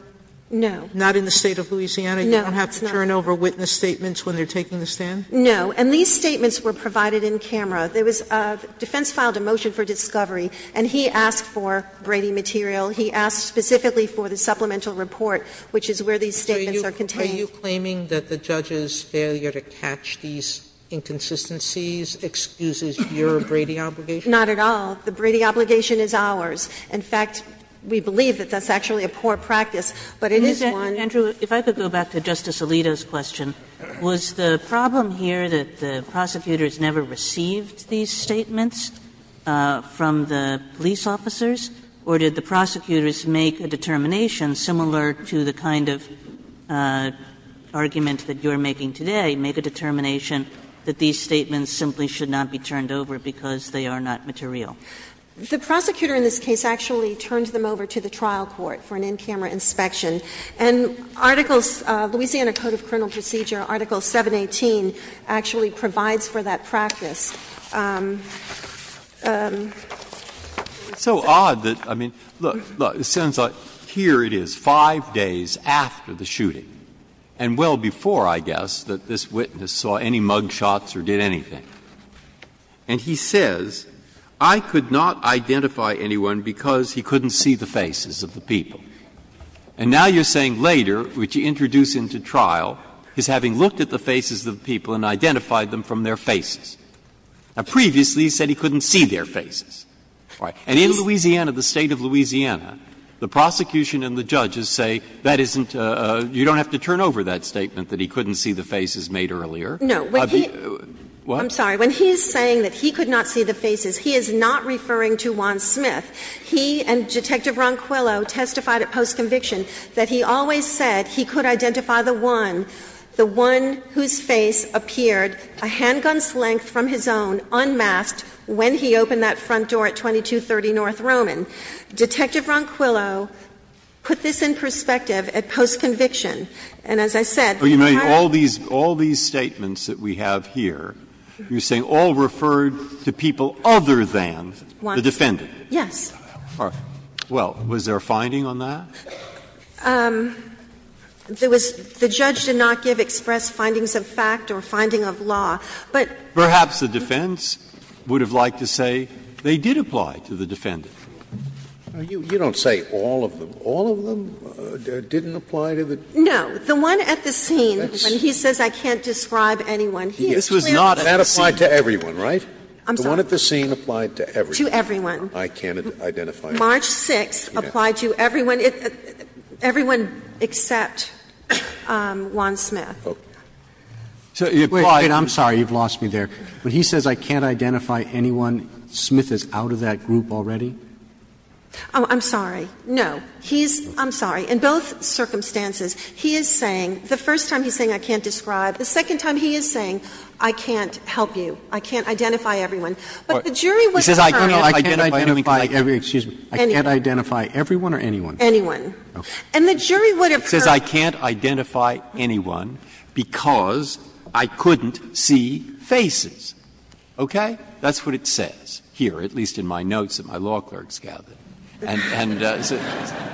No. Not in the State of Louisiana, you don't have to turn over witness statements when they're taking the stand? No. And these statements were provided in camera. There was a defense filed a motion for discovery, and he asked for Brady material. He asked specifically for the supplemental report, which is where these statements are contained. Are you claiming that the judge's failure to catch these inconsistencies excuses your Brady obligation? Not at all. The Brady obligation is ours. In fact, we believe that that's actually a poor practice, but it is one. Andrew, if I could go back to Justice Alito's question, was the problem here that the prosecutors never received these statements from the police officers, or did the prosecutors make a determination similar to the kind of argument that you're making today, make a determination that these statements simply should not be turned over because they are not material? The prosecutor in this case actually turned them over to the trial court for an in-camera inspection. And articles, Louisiana Code of Criminal Procedure, Article 718, actually provides for that practice. It's so odd that, I mean, look, look, it sounds like here it is, 5 days after the shooting, and well before, I guess, that this witness saw any mug shots or did anything. And he says, I could not identify anyone because he couldn't see the faces of the people. And now you're saying later, which you introduce into trial, is having looked at the faces of the people and identified them from their faces. Now, previously he said he couldn't see their faces. And in Louisiana, the State of Louisiana, the prosecution and the judges say that isn't a — you don't have to turn over that statement that he couldn't see the faces made earlier. No. I'm sorry. When he's saying that he could not see the faces, he is not referring to Juan Smith. He and Detective Ronquillo testified at post-conviction that he always said he could identify the one, the one whose face appeared a handgun's length from his own, unmasked, when he opened that front door at 2230 North Roman. Detective Ronquillo put this in perspective at post-conviction. And as I said, the entire — But, Your Honor, all these — all these statements that we have here, you're saying all referred to people other than the defendant. Juan Smith. Yes. All right. Well, was there a finding on that? There was — the judge did not give express findings of fact or finding of law. But — Perhaps the defense would have liked to say they did apply to the defendant. You don't say all of them. All of them didn't apply to the — No. The one at the scene, when he says I can't describe anyone, he is clearly at the scene. That applied to everyone, right? I'm sorry. The one at the scene applied to everyone. To everyone. I can't identify anyone. March 6th applied to everyone. Everyone except Juan Smith. So he applied to — Wait. I'm sorry. You've lost me there. When he says I can't identify anyone, Smith is out of that group already? Oh, I'm sorry. No. He's — I'm sorry. In both circumstances, he is saying — the first time he's saying I can't describe, the second time he is saying I can't help you, I can't identify everyone. But the jury wouldn't determine if I can't help you. I can't identify everyone or anyone? Anyone. Okay. And the jury would have heard — He says I can't identify anyone because I couldn't see faces. Okay? That's what it says here, at least in my notes that my law clerk's gathered. And — and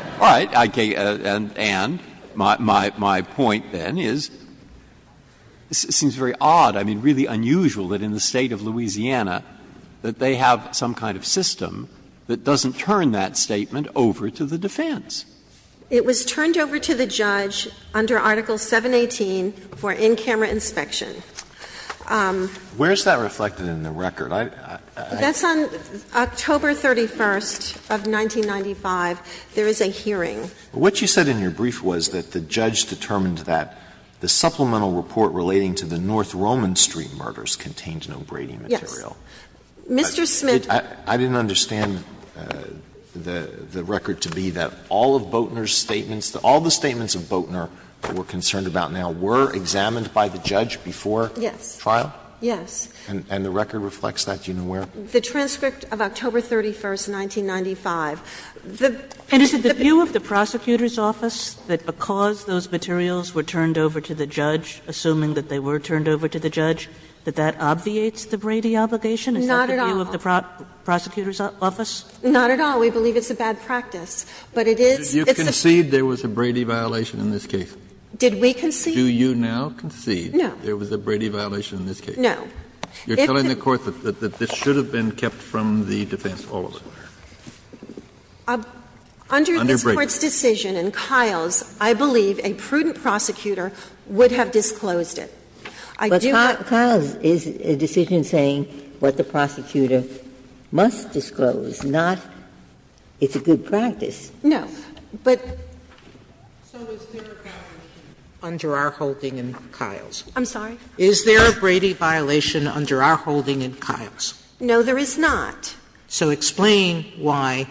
— all right. And my — my point then is, this seems very odd, I mean, really unusual that in the case of a case like this, there is some kind of system that doesn't turn that statement over to the defense. It was turned over to the judge under Article 718 for in-camera inspection. Where is that reflected in the record? That's on October 31st of 1995. There is a hearing. What you said in your brief was that the judge determined that the supplemental report relating to the North Roman Street murders contained no Brady material. Yes. Mr. Smith — I didn't understand the record to be that all of Boatner's statements, all the statements of Boatner that we're concerned about now were examined by the judge before trial? Yes. And the record reflects that? Do you know where? The transcript of October 31st, 1995. The — And is it the view of the prosecutor's office that because those materials were turned over to the judge, assuming that they were turned over to the judge, that that obviates the Brady obligation? Not at all. Is that the view of the prosecutor's office? Not at all. We believe it's a bad practice. But it is — Did you concede there was a Brady violation in this case? Did we concede? Do you now concede there was a Brady violation in this case? No. You're telling the Court that this should have been kept from the defense all over? Under this Court's decision, in Kyle's, I believe a prudent prosecution prosecutor would have disclosed it. I do not — But Kyle's is a decision saying what the prosecutor must disclose, not it's a good practice. No. But — So is there a Brady violation under our holding in Kyle's? I'm sorry? Is there a Brady violation under our holding in Kyle's? No, there is not. So explain why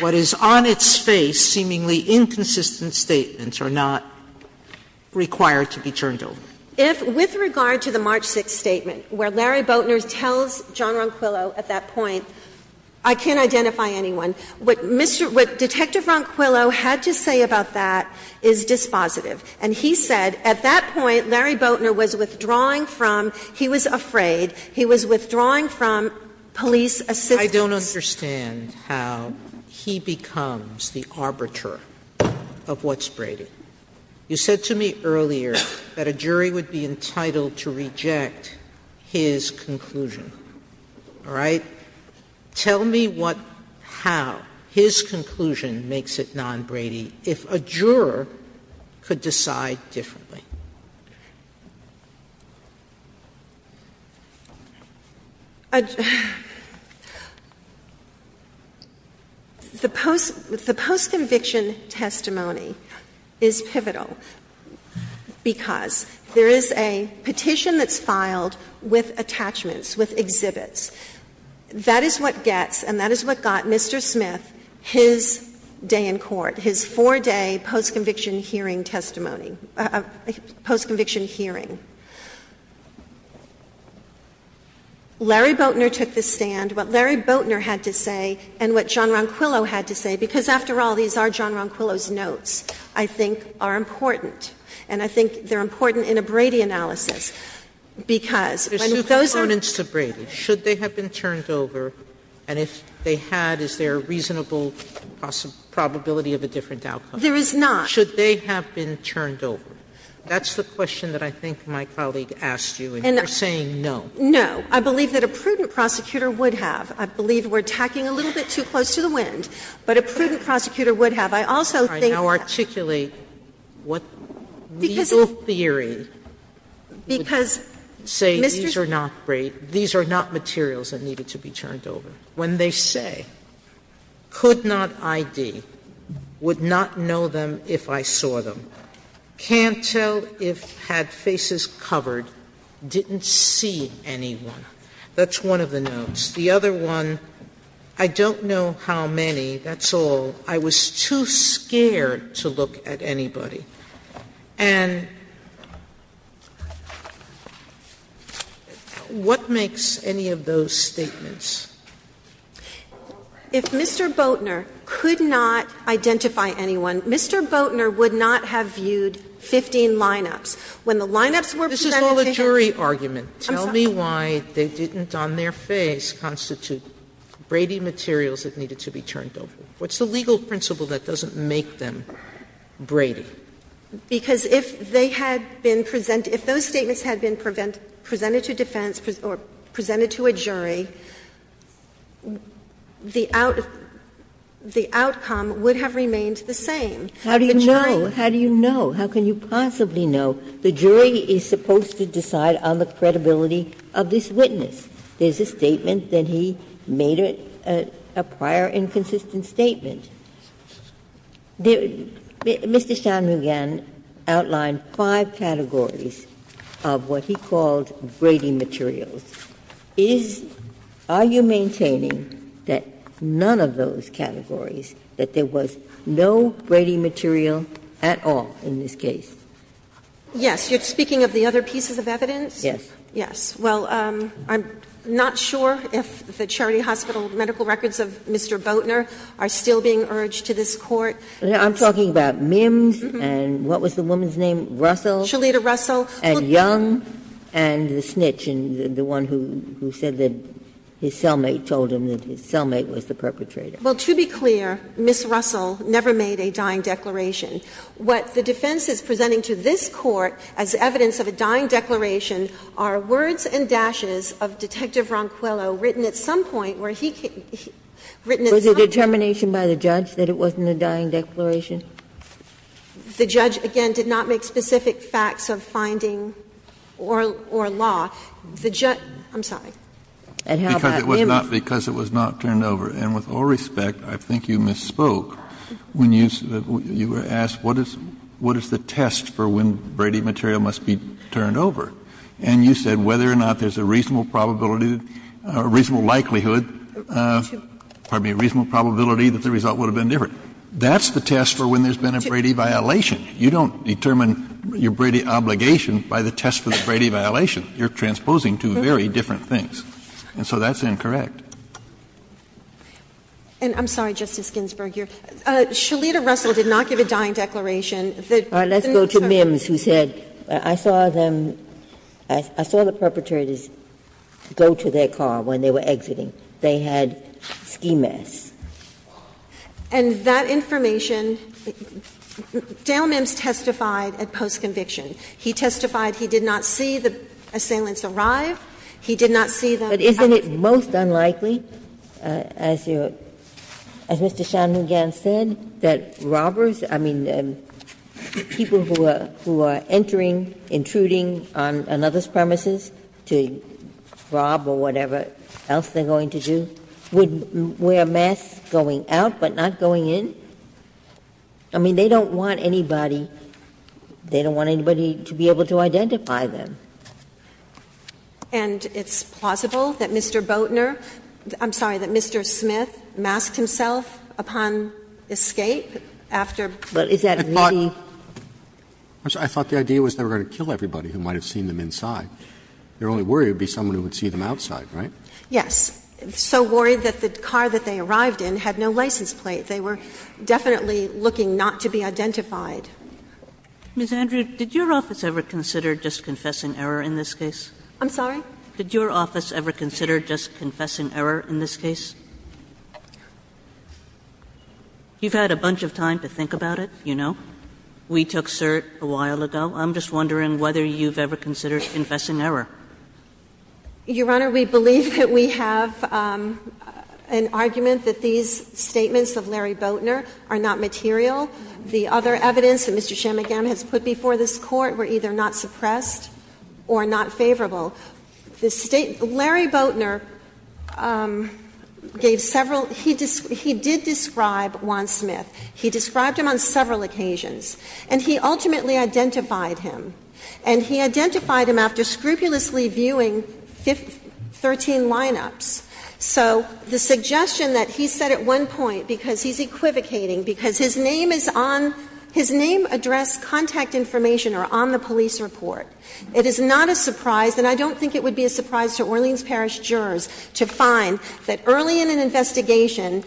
what is on its face, seemingly inconsistent statements, are not required to be turned over. If, with regard to the March 6th statement, where Larry Boatner tells John Ronquillo at that point, I can't identify anyone, what Mr. — what Detective Ronquillo had to say about that is dispositive. And he said at that point Larry Boatner was withdrawing from — he was afraid he was withdrawing from police assistance. I don't understand how he becomes the arbiter of what's Brady. You said to me earlier that a jury would be entitled to reject his conclusion. All right? Tell me what — how his conclusion makes it non-Brady if a juror could decide differently. The post — the post-conviction testimony is pivotal because there is a petition that's filed with attachments, with exhibits. That is what gets and that is what got Mr. Smith his day in court, his four-day post-conviction hearing testimony. Post-conviction hearing. Larry Boatner took the stand. What Larry Boatner had to say and what John Ronquillo had to say, because, after all, these are John Ronquillo's notes, I think are important, and I think they're important in a Brady analysis, because when those are — There's two components to Brady. Should they have been turned over? And if they had, is there a reasonable possibility of a different outcome? There is not. Should they have been turned over? That's the question that I think my colleague asked you, and you're saying no. No. I believe that a prudent prosecutor would have. I believe we're tacking a little bit too close to the wind, but a prudent prosecutor would have. I also think that — All right. Now articulate what legal theory would say these are not Brady, these are not materials that needed to be turned over, when they say, could not ID, would not know them if I saw them, can't tell if had faces covered, didn't see anyone. That's one of the notes. The other one, I don't know how many, that's all. I was too scared to look at anybody. And what makes any of those statements? If Mr. Boatner could not identify anyone, Mr. Boatner would not have viewed 15 lineups. When the lineups were presented to him — This is all a jury argument. I'm sorry. Tell me why they didn't on their face constitute Brady materials that needed to be turned over. What's the legal principle that doesn't make them Brady? Because if they had been presented, if those statements had been presented to defense or presented to a jury, the outcome would have remained the same. How do you know? How do you know? How can you possibly know? The jury is supposed to decide on the credibility of this witness. There's a statement that he made a prior inconsistent statement. Mr. Shanmugam outlined five categories of what he called Brady materials. Is — are you maintaining that none of those categories, that there was no Brady material at all in this case? Yes. You're speaking of the other pieces of evidence? Yes. Yes. Well, I'm not sure if the Charity Hospital medical records of Mr. Boatner are still being urged to this Court. I'm talking about Mims and what was the woman's name? Russell? Shalita Russell. And Young and the snitch, the one who said that his cellmate told him that his cellmate was the perpetrator. Well, to be clear, Ms. Russell never made a dying declaration. What the defense is presenting to this Court as evidence of a dying declaration are words and dashes of Detective Ronquillo written at some point where he — written at some point where he told the judge that it wasn't a dying declaration. The judge, again, did not make specific facts of finding or law. The judge — I'm sorry. Because it was not — because it was not turned over. And with all respect, I think you misspoke when you asked what is the test for when Brady material must be turned over. And you said whether or not there's a reasonable probability, a reasonable likelihood, pardon me, a reasonable probability that the result would have been different. That's the test for when there's been a Brady violation. You don't determine your Brady obligation by the test for the Brady violation. You're transposing two very different things. And so that's incorrect. And I'm sorry, Justice Ginsburg. Your — Shalita Russell did not give a dying declaration. Let's go to Mims, who said, I saw them — I saw the perpetrators go to their car when they were exiting. They had ski masks. And that information — Dale Mims testified at post-conviction. He testified he did not see the assailants arrive. He did not see the — But isn't it most unlikely, as your — as Mr. Shanmugam said, that robbers — I mean, people who are entering, intruding on another's premises to rob or whatever else they're going to do, would wear masks going out but not going in? I mean, they don't want anybody — they don't want anybody to be able to identify them. And it's plausible that Mr. Boatner — I'm sorry, that Mr. Smith masked himself upon escape after — But is that really — I'm sorry. I thought the idea was they were going to kill everybody who might have seen them inside. Their only worry would be someone who would see them outside, right? Yes. So worried that the car that they arrived in had no license plate. They were definitely looking not to be identified. Ms. Andrew, did your office ever consider just confessing error in this case? I'm sorry? Did your office ever consider just confessing error in this case? You've had a bunch of time to think about it, you know. We took cert a while ago. I'm just wondering whether you've ever considered confessing error. Your Honor, we believe that we have an argument that these statements of Larry Boatner are not material. The other evidence that Mr. Shamagam has put before this Court were either not suppressed or not favorable. Larry Boatner gave several — he did describe Juan Smith. He described him on several occasions. And he ultimately identified him. And he identified him after scrupulously viewing 13 lineups. So the suggestion that he said at one point, because he's equivocating, because his name is on — his name, address, contact information are on the police report. It is not a surprise, and I don't think it would be a surprise to Orleans Parish jurors to find that early in an investigation,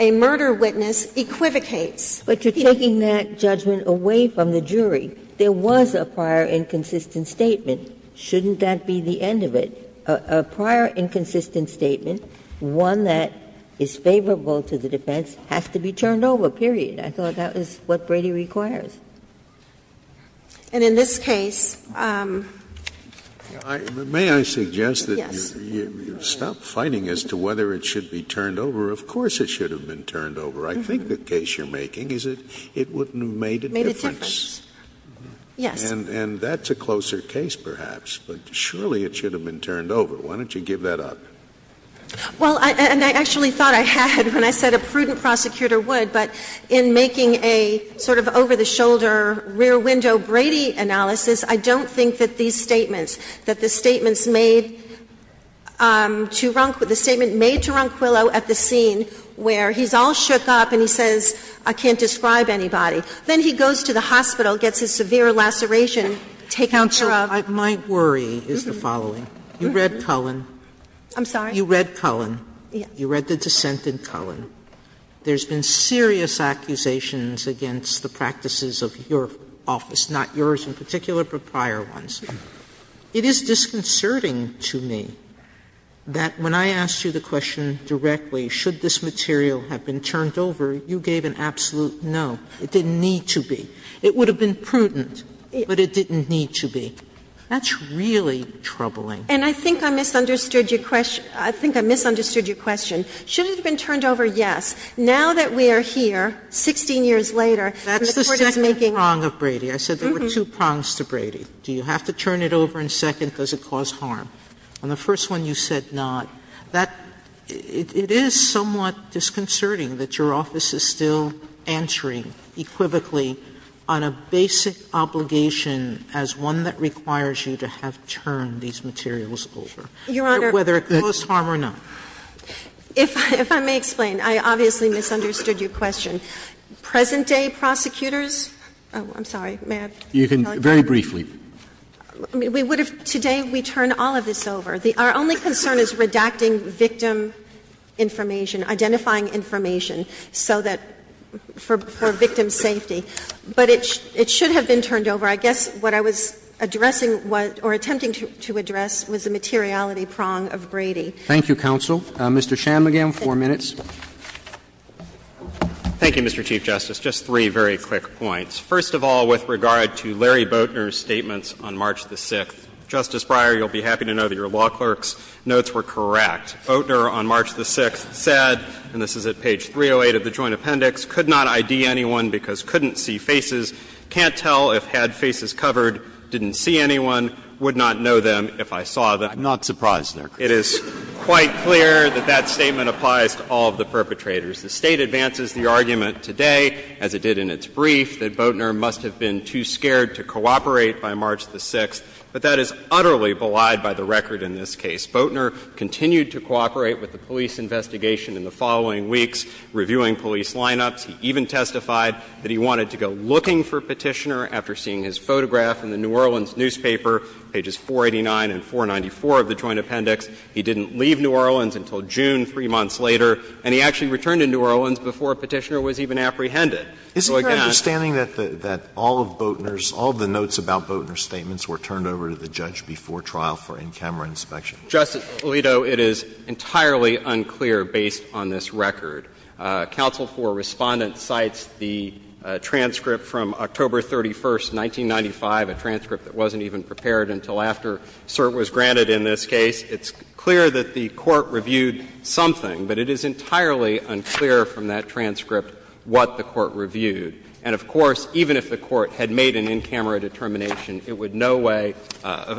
a murder witness equivocates. But you're taking that judgment away from the jury. There was a prior inconsistent statement. Shouldn't that be the end of it? A prior inconsistent statement, one that is favorable to the defense, has to be turned over, period. I thought that was what Brady requires. And in this case — May I suggest that you stop fighting as to whether it should be turned over. Of course it should have been turned over. I think the case you're making is that it wouldn't have made a difference. Made a difference. Yes. And that's a closer case, perhaps. But surely it should have been turned over. Why don't you give that up? Well, and I actually thought I had when I said a prudent prosecutor would. But in making a sort of over-the-shoulder, rear-window Brady analysis, I don't think that these statements, that the statements made to Ronquillo, the statement made to Ronquillo at the scene where he's all shook up and he says, I can't describe anybody, then he goes to the hospital, gets a severe laceration, take out her arm. Counsel, my worry is the following. You read Cullen. I'm sorry? You read Cullen. Yes. You read the dissent in Cullen. There's been serious accusations against the practices of your office, not yours in particular, but prior ones. It is disconcerting to me that when I asked you the question directly, should this material have been turned over, you gave an absolute no. It didn't need to be. It would have been prudent, but it didn't need to be. That's really troubling. And I think I misunderstood your question. I think I misunderstood your question. Should it have been turned over? Yes. Now that we are here, 16 years later, and the Court is making. That's the second prong of Brady. I said there were two prongs to Brady. Do you have to turn it over in second? Does it cause harm? On the first one, you said not. That, it is somewhat disconcerting that your office is still answering equivocally on a basic obligation as one that requires you to have turned these materials over. Your Honor. Whether it caused harm or not. If I may explain. I obviously misunderstood your question. Present-day prosecutors. I'm sorry. May I tell you? Very briefly. I mean, what if today we turn all of this over? Our only concern is redacting victim information, identifying information, so that for victim safety. But it should have been turned over. I guess what I was addressing or attempting to address was the materiality prong of Brady. Thank you, counsel. Mr. Shanmugam, four minutes. Thank you, Mr. Chief Justice. Just three very quick points. First of all, with regard to Larry Boatner's statements on March the 6th. Justice Breyer, you will be happy to know that your law clerk's notes were correct. Boatner on March the 6th said, and this is at page 308 of the Joint Appendix, could not ID anyone because couldn't see faces, can't tell if had faces covered, didn't see anyone, would not know them if I saw them. I'm not surprised there. It is quite clear that that statement applies to all of the perpetrators. The State advances the argument today, as it did in its brief, that Boatner must have been too scared to cooperate by March the 6th. But that is utterly belied by the record in this case. Boatner continued to cooperate with the police investigation in the following weeks, reviewing police lineups. He even testified that he wanted to go looking for Petitioner after seeing his photograph in the New Orleans newspaper, pages 489 and 494 of the Joint Appendix. He didn't leave New Orleans until June, three months later, and he actually returned to New Orleans before Petitioner was even apprehended. So, again, I'm not surprised. Isn't there an understanding that all of Boatner's, all of the notes about Boatner's statements were turned over to the judge before trial for in-camera inspection? Justice Alito, it is entirely unclear, based on this record. Counsel for Respondent cites the transcript from October 31st, 1995, a transcript that wasn't even prepared until after cert was granted in this case. It's clear that the Court reviewed something, but it is entirely unclear from that transcript what the Court reviewed. And, of course, even if the Court had made an in-camera determination, it would in no way,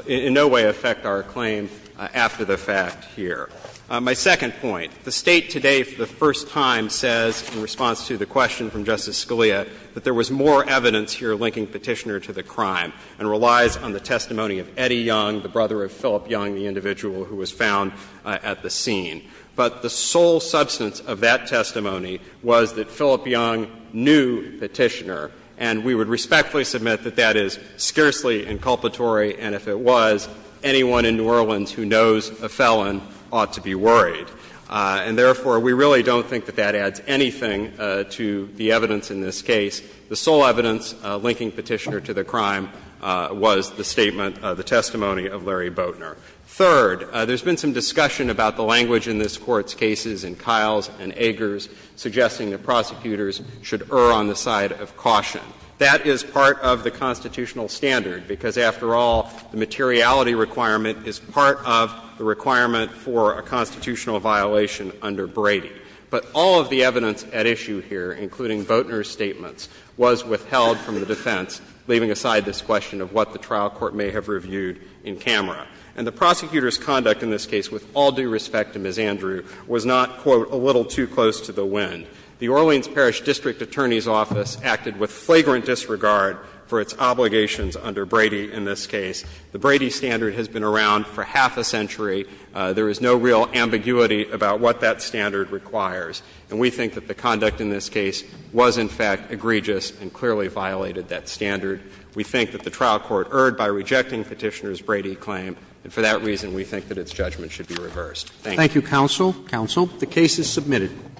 in no way affect our claim after the fact here. My second point, the State today for the first time says, in response to the question from Justice Scalia, that there was more evidence here linking Petitioner to the crime and relies on the testimony of Eddie Young, the brother of Philip Young, the individual who was found at the scene. But the sole substance of that testimony was that Philip Young knew Petitioner, and we would respectfully submit that that is scarcely inculpatory, and if it was, anyone in New Orleans who knows a felon ought to be worried. And, therefore, we really don't think that that adds anything to the evidence in this case. The sole evidence linking Petitioner to the crime was the statement, the testimony of Larry Boatner. Third, there's been some discussion about the language in this Court's cases in Kiles and Eggers, suggesting that prosecutors should err on the side of caution. That is part of the constitutional standard, because, after all, the materiality requirement is part of the requirement for a constitutional violation under Brady. But all of the evidence at issue here, including Boatner's statements, was withheld from the defense, leaving aside this question of what the trial court may have reviewed in camera. And the prosecutor's conduct in this case, with all due respect to Ms. Andrew, was not, quote, a little too close to the wind. The Orleans Parish District Attorney's Office acted with flagrant disregard for its obligations under Brady in this case. The Brady standard has been around for half a century. There is no real ambiguity about what that standard requires. And we think that the conduct in this case was, in fact, egregious and clearly violated that standard. We think that the trial court erred by rejecting Petitioner's Brady claim, and for that reason we think that its judgment should be reversed. Thank you. Thank you, counsel. Counsel, the case is submitted.